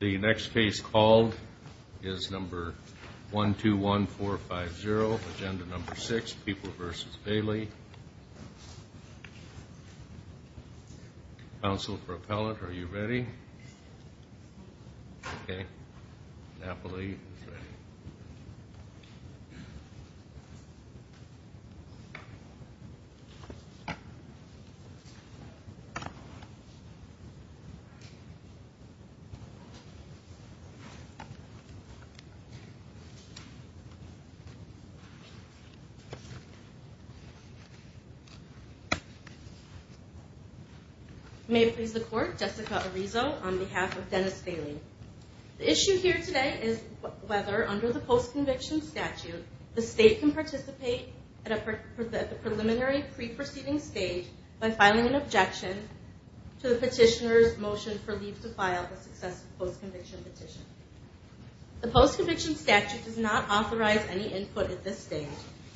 The next case called is number 121450, agenda number six, People v. Bailey. Counsel for appellant, are you ready? Okay. Napoli. May it please the court, Jessica Arizo on behalf of Dennis Bailey. The issue here today is whether under the post-conviction statute the state can participate at the preliminary pre-proceeding stage by filing an objection to the petitioner's motion for leave to file the successive post-conviction petition. The post-conviction statute does not authorize any input at this stage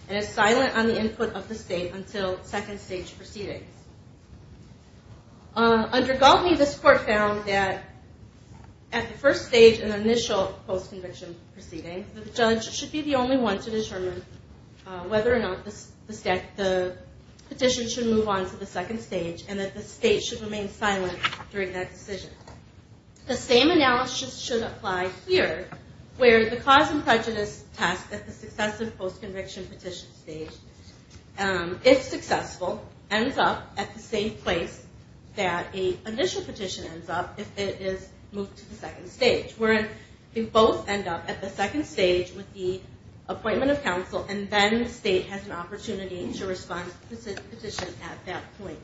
and is silent on the input of the state until second stage proceedings. Under Galtney, this court found that at the first stage in the initial post-conviction proceeding, the judge should be the only one to determine whether or not the petition should move on to the second stage and that the state should remain silent during that decision. The same analysis should apply here where the cause and prejudice test at the successive post-conviction petition stage, if successful, ends up at the same place that an initial petition ends up if it is moved to the second stage. Where they both end up at the second stage with the appointment of counsel and then the state has an opportunity to respond to the petition at that point.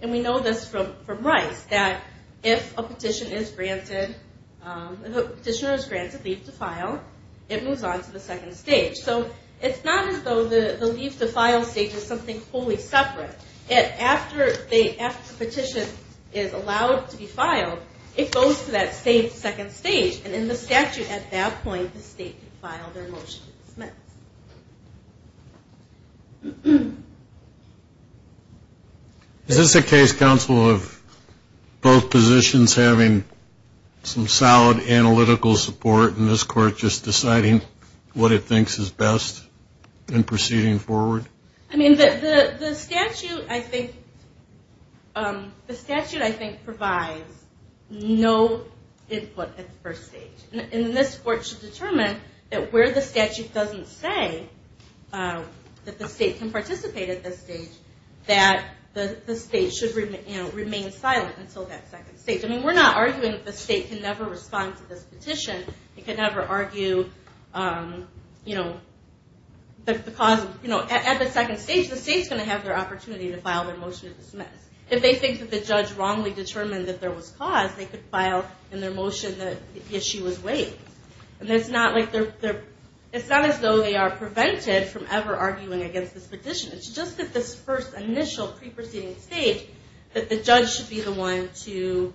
And we know this from Rice that if a petitioner is granted leave to file, it moves on to the second stage. So it's not as though the leave to file stage is something wholly separate. After the petition is allowed to be filed, it goes to that same second stage and in the statute at that point, the state can file their motion to dismiss. Is this a case, counsel, of both positions having some solid analytical support and this court just deciding what it thinks is best in proceeding forward? The statute, I think, provides no input at the first stage. And this court should determine that where the statute doesn't say that the state can participate at this stage, that the state should remain silent until that second stage. We're not arguing that the state can never respond to this petition. At the second stage, the state's going to have their opportunity to file their motion to dismiss. If they think that the judge wrongly determined that there was cause, they could file in their motion that the issue was waived. It's not as though they are prevented from ever arguing against this petition. It's just that this first initial pre-proceeding stage that the judge should be the one to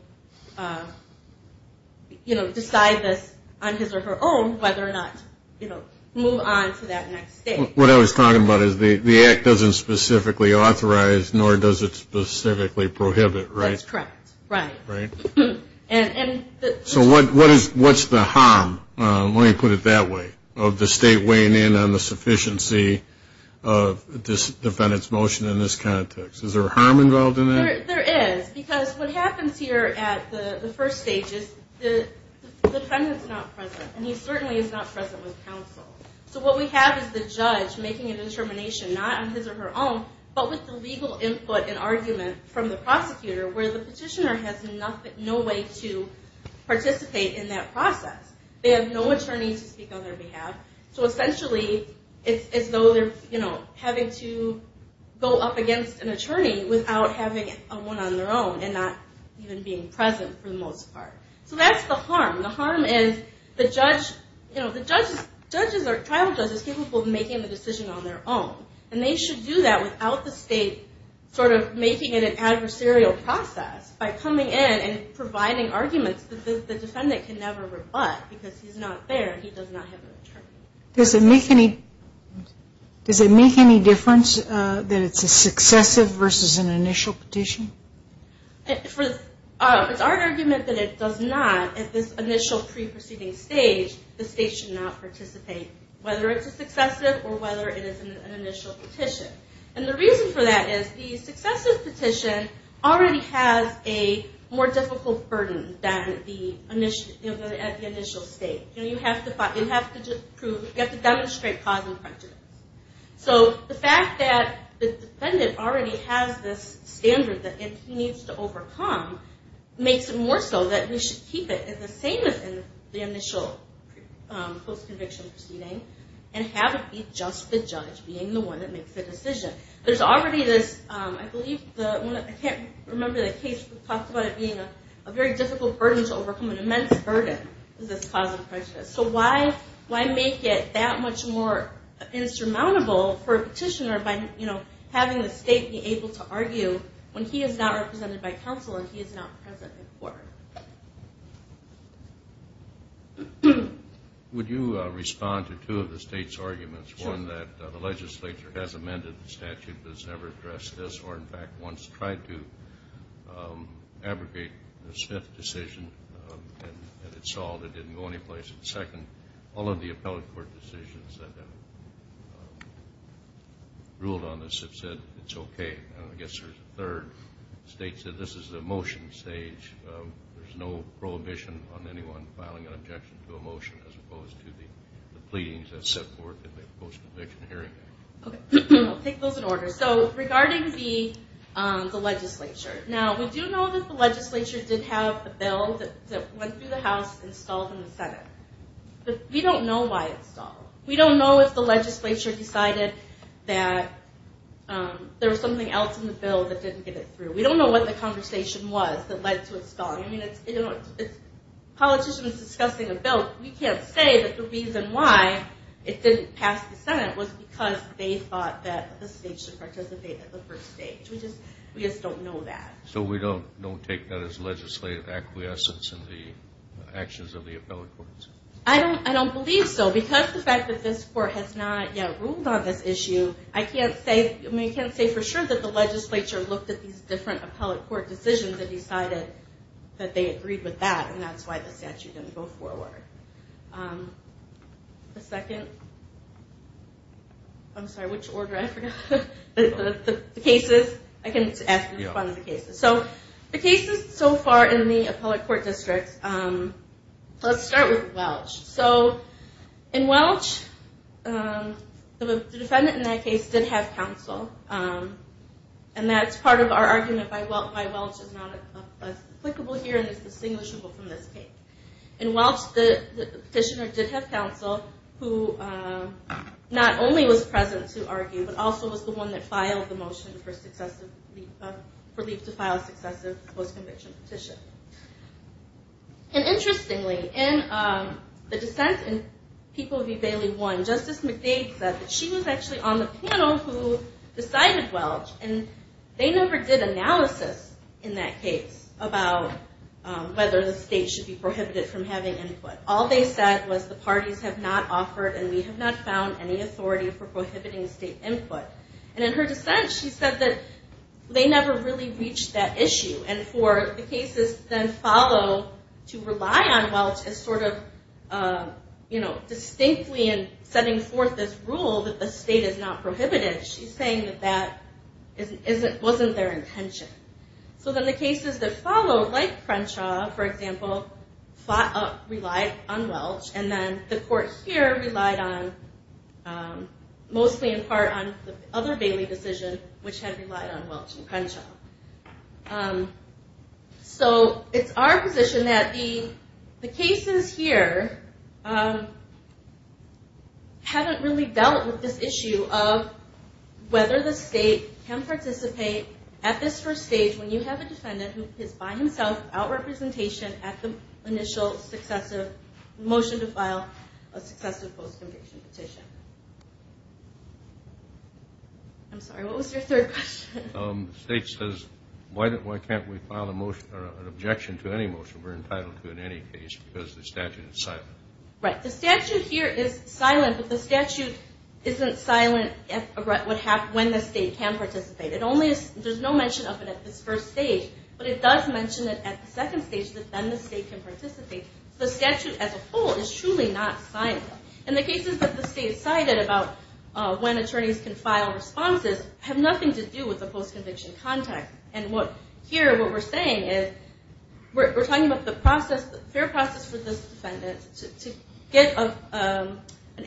decide this on his or her own whether or not to move on to that next stage. What I was talking about is the act doesn't specifically authorize nor does it specifically prohibit, right? That's correct. Right. So what's the harm, let me put it that way, of the state weighing in on the sufficiency of this defendant's motion in this context? Is there harm involved in that? There is. Because what happens here at the first stage is the defendant's not present. And he certainly is not present with counsel. So what we have is the judge making a determination, not on his or her own, but with the legal input and argument from the prosecutor where the petitioner has no way to participate in that process. They have no attorney to speak on their behalf. So essentially, it's as though they're having to go up against an attorney without having one on their own and not even being present for the most part. So that's the harm. The harm is the judge, you know, the judge is, judges are, trial judges are capable of making the decision on their own. And they should do that without the state sort of making it an adversarial process by coming in and providing arguments that the defendant can never rebut because he's not there and he does not have an attorney. Does it make any difference that it's a successive versus an initial petition? It's our argument that it does not, at this initial pre-proceeding stage, the state should not participate. Whether it's a successive or whether it is an initial petition. And the reason for that is the successive petition already has a more difficult burden than at the initial stage. You have to prove, you have to demonstrate cause and prejudice. So the fact that the defendant already has this standard that he needs to overcome makes it more so that we should keep it the same as in the initial post-conviction proceeding and have it be just the judge being the one that makes the decision. There's already this, I believe, I can't remember the case that talked about it being a very difficult burden to overcome, an immense burden is this cause and prejudice. So why make it that much more insurmountable for a petitioner by, you know, having the state be able to argue when he is not represented by counsel and he is not present in court? Would you respond to two of the state's arguments? One, that the legislature has amended the statute but has never addressed this or in fact once tried to abrogate the Smith decision and it solved, it didn't go anyplace. Second, all of the appellate court decisions that have ruled on this have said it's okay. And I guess there's a third. The state said this is the motion stage. There's no prohibition on anyone filing an objection to a motion as opposed to the pleadings that set forth in the post-conviction hearing. Okay, we'll take those in order. So regarding the legislature, now we do know that the legislature did have a bill that went through the House and stalled in the Senate. But we don't know why it stalled. We don't know if the legislature decided that there was something else in the bill that didn't get it through. We don't know what the conversation was that led to it stalling. I mean, politicians discussing a bill, we can't say that the reason why it didn't pass the Senate was because they thought that the state should participate at the first stage. We just don't know that. So we don't take that as legislative acquiescence in the actions of the appellate courts? I don't believe so. Because of the fact that this court has not yet ruled on this issue, I can't say for sure that the legislature looked at these different appellate court decisions and decided that they agreed with that, and that's why the statute didn't go forward. The second... I'm sorry, which order? I forgot. The cases? I can ask you to respond to the cases. So the cases so far in the appellate court districts, let's start with Welch. So in Welch, the defendant in that case did have counsel, and that's part of our argument why Welch is not as applicable here and is distinguishable from this case. In Welch, the petitioner did have counsel who not only was present to argue, but also was the one that filed the motion for leave to file a successive post-conviction petition. And interestingly, in the dissent in People v. Bailey 1, Justice McDade said that she was actually on the panel who decided Welch, and they never did analysis in that case about whether the state should be prohibited from having input. All they said was the parties have not offered and we have not found any authority for prohibiting state input. And in her dissent, she said that they never really reached that issue, and for the cases to then follow to rely on Welch as sort of, you know, distinctly in setting forth this rule that the state is not prohibited, she's saying that that wasn't their intention. So then the cases that followed, like Crenshaw, for example, relied on Welch, and then the court here relied mostly in part on the other Bailey decision, which had relied on Welch and Crenshaw. So it's our position that the cases here haven't really dealt with this issue of whether the state can participate at this first stage when you have a defendant who is by himself without representation at the initial successive motion to file a successive post-conviction petition. I'm sorry, what was your third question? The state says, why can't we file an objection to any motion we're entitled to in any case because the statute is silent? Right. The statute here is silent, but the statute isn't silent when the state can participate. There's no mention of it at this first stage, but it does mention it at the second stage, that then the state can participate. The statute as a whole is truly not silent. And the cases that the state cited about when attorneys can file responses have nothing to do with the post-conviction context. Here, what we're saying is, we're talking about the fair process for this defendant to get an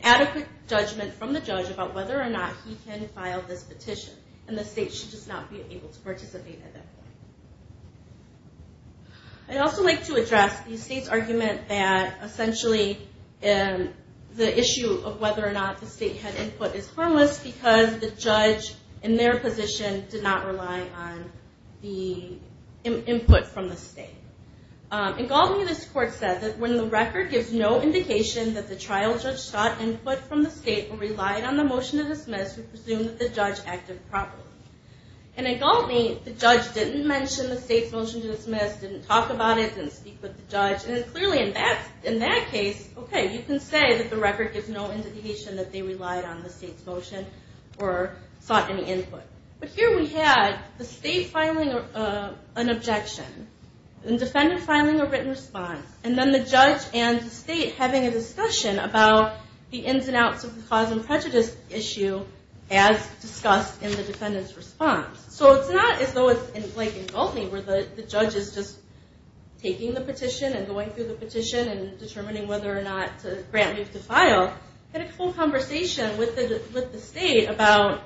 adequate judgment from the judge about whether or not he can file this petition, and the state should just not be able to participate at that point. I'd also like to address the state's argument that, essentially, the issue of whether or not the state had input is harmless because the judge, in their position, did not rely on the input from the state. In Galtney, this court said that, when the record gives no indication that the trial judge sought input from the state or relied on the motion to dismiss, we presume that the judge acted properly. In Galtney, the judge didn't mention the state's motion to dismiss, didn't talk about it, didn't speak with the judge. Clearly, in that case, you can say that the record gives no indication that they relied on the state's motion or sought any input. Here, we had the state filing an objection, the defendant filing a written response, and then the judge and the state having a discussion about the ins and outs of the cause and prejudice issue as discussed in the defendant's response. It's not as though it's in Galtney, where the judge is just taking the petition and going through the petition and determining whether or not to grant or move to file. They had a full conversation with the state about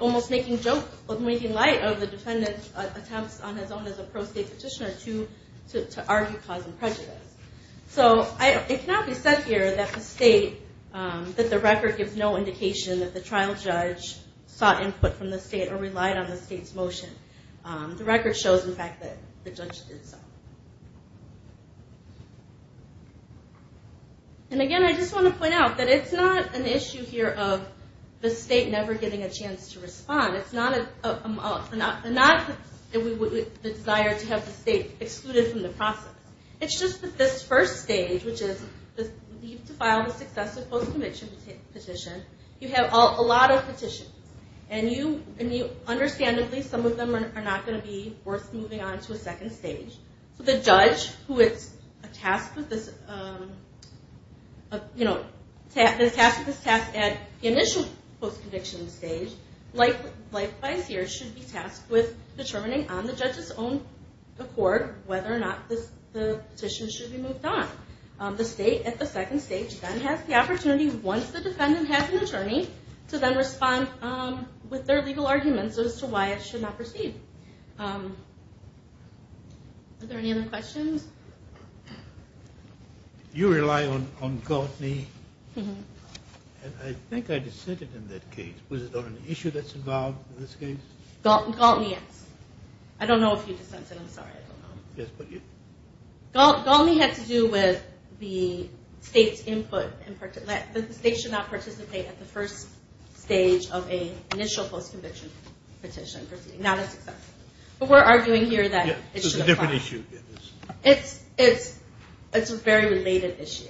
almost making light of the defendant's attempts on his own as a pro-state petitioner to argue cause and prejudice. It cannot be said here that the state, that the record gives no indication that the trial judge sought input from the state or relied on the state's motion. The record shows, in fact, that the judge did so. Again, I just want to point out that it's not an issue here of the state never getting a chance to respond. It's not the desire to have the state excluded from the process. It's just that this first stage, which is leave to file the successive post-conviction petition, you have a lot of petitions. Understandably, some of them are not going to be worth moving on to a second stage. The judge who is tasked with this task at the initial post-conviction stage, likewise here, should be tasked with determining on the judge's own accord whether or not the petition should be moved on. The state, at the second stage, then has the opportunity, once the defendant has an attorney, to then respond with their legal arguments as to why it should not proceed. Are there any other questions? You rely on Galtney. I think I dissented in that case. Was it on an issue that's involved in this case? Galtney, yes. I don't know if you dissented. I'm sorry, I don't know. Yes, but you? Galtney had to do with the state's input. The state should not participate at the first stage of an initial post-conviction petition proceeding. But we're arguing here that it should apply. It's a different issue. It's a very related issue.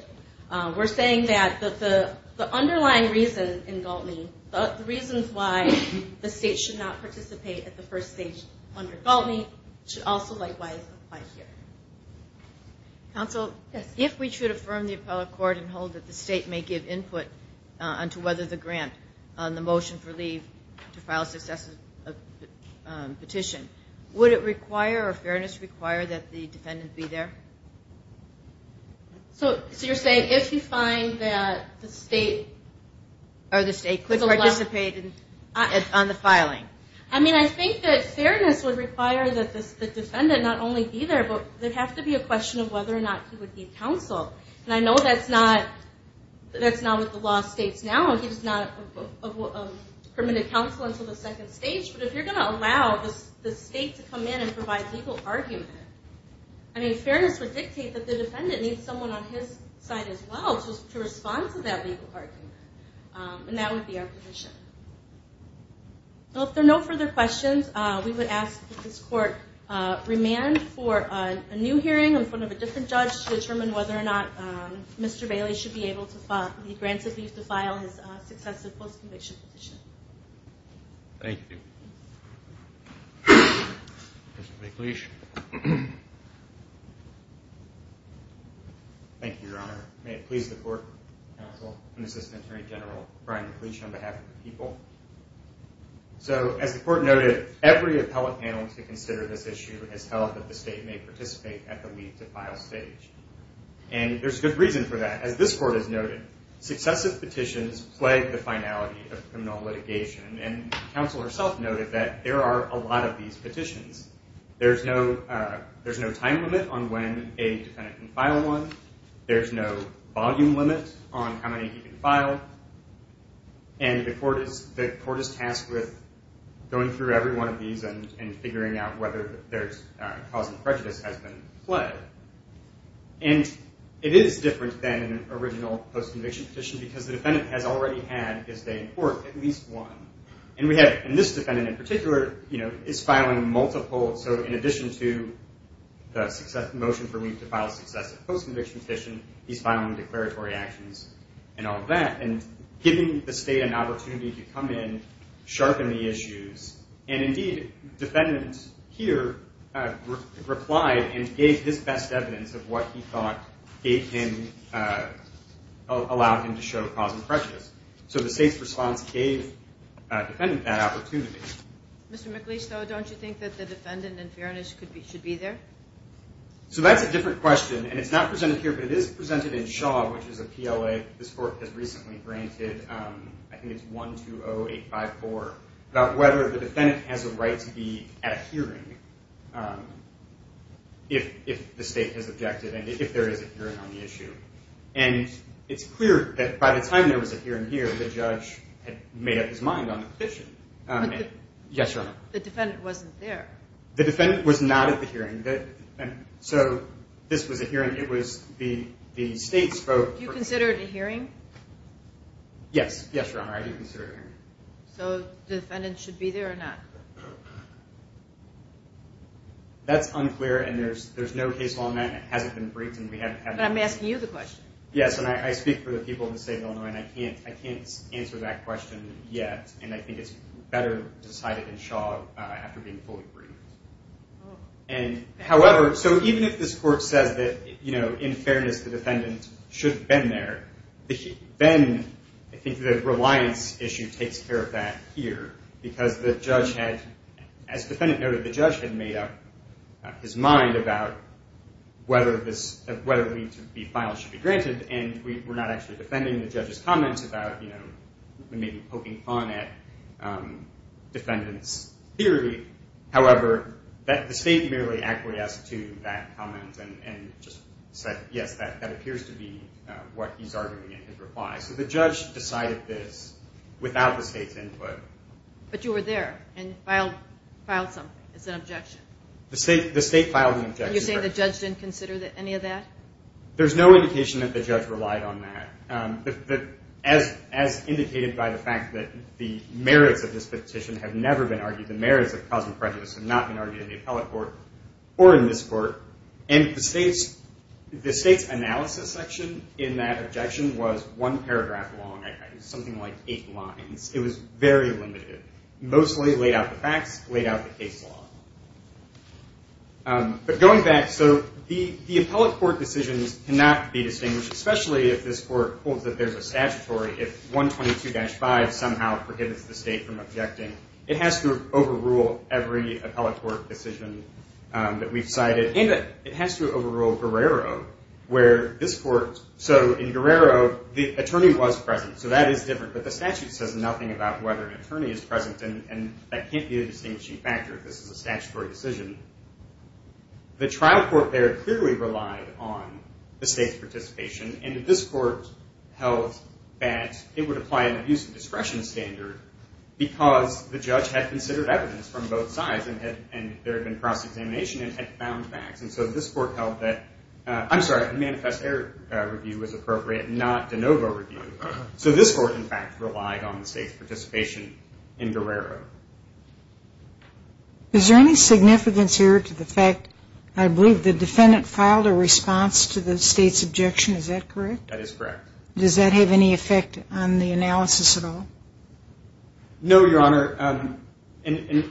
We're saying that the underlying reason in Galtney, the reasons why the state should not participate at the first stage under Galtney should also, likewise, apply here. Counsel, if we should affirm the appellate court and hold that the state may give input on whether the grant on the motion for leave to file a successive petition, would it require or fairness require that the defendant be there? So you're saying if you find that the state could participate on the filing? I think that fairness would require that the defendant not only be there, but there would have to be a question of whether or not he would be counseled. I know that's not what the law states now. He's not a permitted counsel until the second stage. But if you're going to allow the state to come in and provide legal argument, fairness would dictate that the defendant needs someone on his side as well to respond to that legal argument. And that would be our position. If there are no further questions, we would ask that this court remand for a new hearing in front of a different judge to determine whether or not Mr. Bailey should be able to file the successive post-conviction petition. Thank you. Mr. McLeish. Thank you, Your Honor. May it please the court, counsel, and Assistant Attorney General Brian McLeish on behalf of the people. So as the court noted, every appellate panel to consider this issue has held that the state may participate at the leave to file stage. And there's good reason for that. As this court has noted, successive petitions plague the finality of criminal litigation. And counsel herself noted that there are a lot of these petitions. There's no time limit on when a defendant can file one. There's no volume limit on how many he can file. And the court is tasked with going through every one of these and figuring out whether there's cause of prejudice has been fled. And it is different than an original post-conviction petition because the defendant has already had, as they report, at least one. And this defendant in particular is filing multiple. So in addition to the motion for leave to file successive post-conviction petition, he's filing declaratory actions and all that, and giving the state an opportunity to come in, sharpen the issues. And indeed, defendants here replied and gave his best evidence of what he thought allowed him to show cause of prejudice. So the state's response gave the defendant that opportunity. Mr. McLeish, though don't you think that the defendant in fairness should be there? So that's a different question. And it's not presented here, but it is presented in Shaw, which is a PLA. This court has recently granted, I think it's 120854, about whether the defendant has a right to be at a hearing if the state has objected and if there is a hearing on the issue. And it's clear that by the time there was a hearing here, the judge had made up his mind on the petition. Yes, Your Honor. The defendant wasn't there. The defendant was not at the hearing. So this was a hearing. It was the state's vote. Yes. Yes, Your Honor, I do consider it a hearing. So the defendant should be there or not? That's unclear, and there's no case law on that. It hasn't been briefed. But I'm asking you the question. Yes, and I speak for the people of the state of Illinois, and I can't answer that question yet. And I think it's better decided in Shaw after being fully briefed. And however, so even if this court says that, you know, in fairness the defendant should have been there, then I think the reliance issue takes care of that here. Because the judge had, as the defendant noted, the judge had made up his mind about whether this, whether the file should be granted. And we're not actually defending the judge's comments about, you know, maybe poking fun at defendants' theory. However, the state merely acquiesced to that comment and just said, yes, that appears to be what he's arguing in his reply. So the judge decided this without the state's input. But you were there and filed something as an objection. The state filed an objection. And you're saying the judge didn't consider any of that? There's no indication that the judge relied on that. As indicated by the fact that the merits of this petition have never been argued, the merits of causing prejudice have not been argued in the appellate court or in this court. And the state's analysis section in that objection was one paragraph long. It was something like eight lines. It was very limited. Mostly laid out the facts, laid out the case law. But going back, so the appellate court decisions cannot be distinguished, especially if this court holds that there's a statutory, if 122-5 somehow prohibits the state from objecting. It has to overrule every appellate court decision that we've cited. And it has to overrule Guerrero, where this court, so in Guerrero, the attorney was present. So that is different. But the statute says nothing about whether an attorney is present. And that can't be a distinguishing factor if this is a statutory decision. The trial court there clearly relied on the state's participation. And this court held that it would apply an abuse of discretion standard because the judge had considered evidence from both sides and there had been cross-examination and had found facts. And so this court held that, I'm sorry, manifest error review was appropriate, not de novo review. So this court, in fact, relied on the state's participation in Guerrero. Is there any significance here to the fact, I believe, the defendant filed a response to the state's objection. Is that correct? That is correct. Does that have any effect on the analysis at all? No, Your Honor. And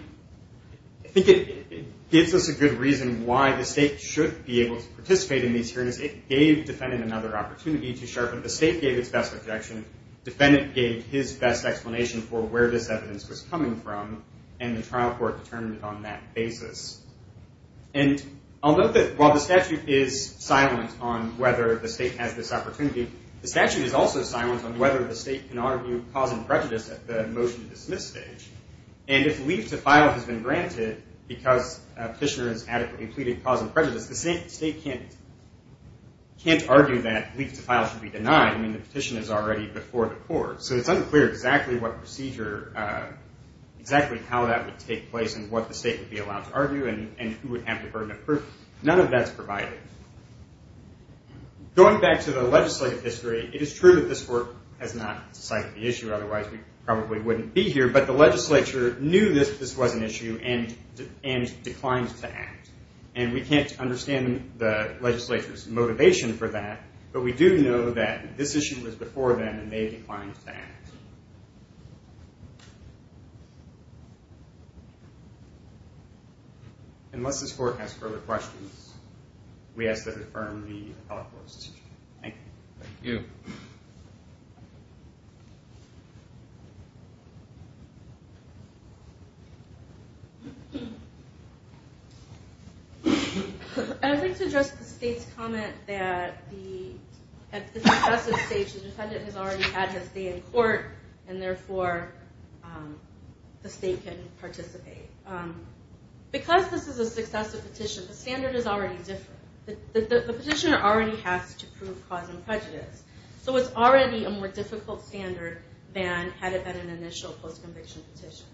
I think it gives us a good reason why the state should be able to participate in these hearings. It gave the defendant another opportunity to sharpen. The state gave its best objection. The defendant gave his best explanation for where this evidence was coming from. And the trial court determined it on that basis. And I'll note that while the statute is silent on whether the state has this opportunity, the statute is also silent on whether the state can argue cause and prejudice at the motion to dismiss stage. And if leave to file has been granted because a petitioner has adequately pleaded cause and prejudice, the state can't argue that leave to file should be denied. I mean, the petition is already before the court. So it's unclear exactly what procedure, exactly how that would take place and what the state would be allowed to argue and who would have the burden of proof. None of that's provided. Going back to the legislative history, it is true that this court has not cited the issue. Otherwise, we probably wouldn't be here. But the legislature knew this was an issue and declined to act. And we can't understand the legislature's motivation for that. But we do know that this issue was before them and they declined to act. Unless this court has further questions, we ask that it affirm the appellate court's decision. Thank you. Thank you. I'd like to address the state's comment that at the discussive stage, the defendant has already had his day in court and, therefore, the state can participate. Because this is a successive petition, the standard is already different. The petitioner already has to prove cause and prejudice. So it's already a more difficult standard than had it been an initial post-conviction petition.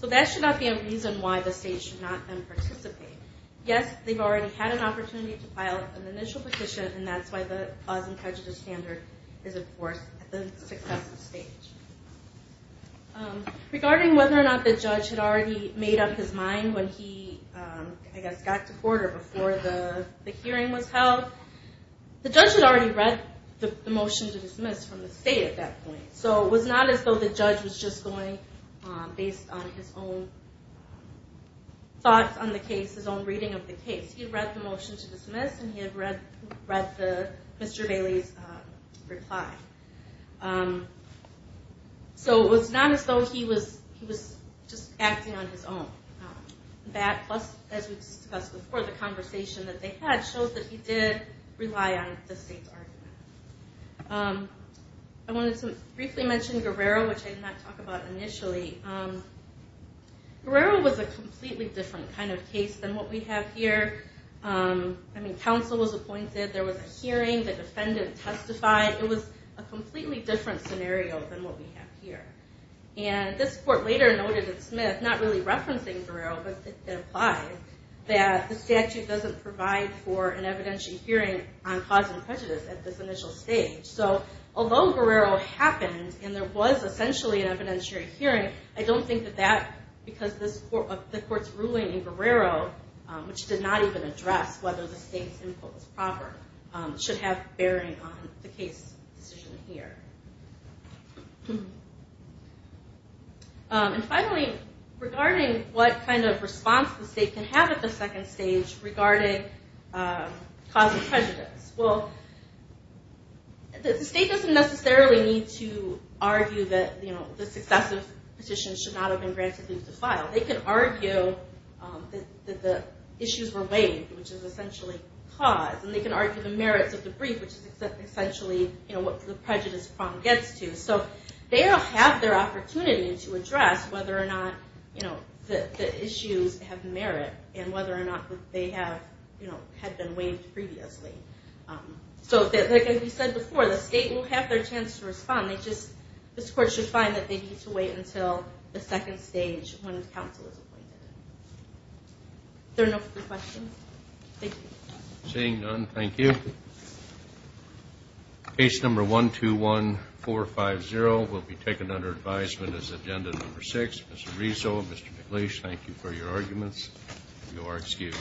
So that should not be a reason why the state should not then participate. Yes, they've already had an opportunity to file an initial petition, and that's why the cause and prejudice standard is, of course, at the successive stage. Regarding whether or not the judge had already made up his mind when he, I guess, got to court or before the hearing was held, the judge had already read the motion to dismiss from the state at that point. So it was not as though the judge was just going based on his own thoughts on the case, his own reading of the case. He had read the motion to dismiss and he had read Mr. Bailey's reply. So it was not as though he was just acting on his own. That, plus, as we discussed before, the conversation that they had showed that he did rely on the state's argument. I wanted to briefly mention Guerrero, which I did not talk about initially. Guerrero was a completely different kind of case than what we have here. I mean, counsel was appointed, there was a hearing, the defendant testified. It was a completely different scenario than what we have here. And this court later noted in Smith, not really referencing Guerrero, but it implies that the statute doesn't provide for an evidentiary hearing on cause and prejudice at this initial stage. So although Guerrero happened and there was essentially an evidentiary hearing, I don't think that that, because the court's ruling in Guerrero, which did not even address whether the state's input was proper, should have bearing on the case decision here. And finally, regarding what kind of response the state can have at the second stage regarding cause and prejudice. Well, the state doesn't necessarily need to argue that the successive petition should not have been granted leave to file. They can argue that the issues were waived, which is essentially cause. And they can argue the merits of the brief, which is essentially what the prejudice prong gets to. So they'll have their opportunity to address whether or not the issues have merit and whether or not they had been waived previously. So like we said before, the state will have their chance to respond. This court should find that they need to wait until the second stage when counsel is appointed. There are no further questions. Thank you. Seeing none, thank you. Case number 121450 will be taken under advisement as agenda number six. Mr. Rezo, Mr. McLeish, thank you for your arguments. You are excused.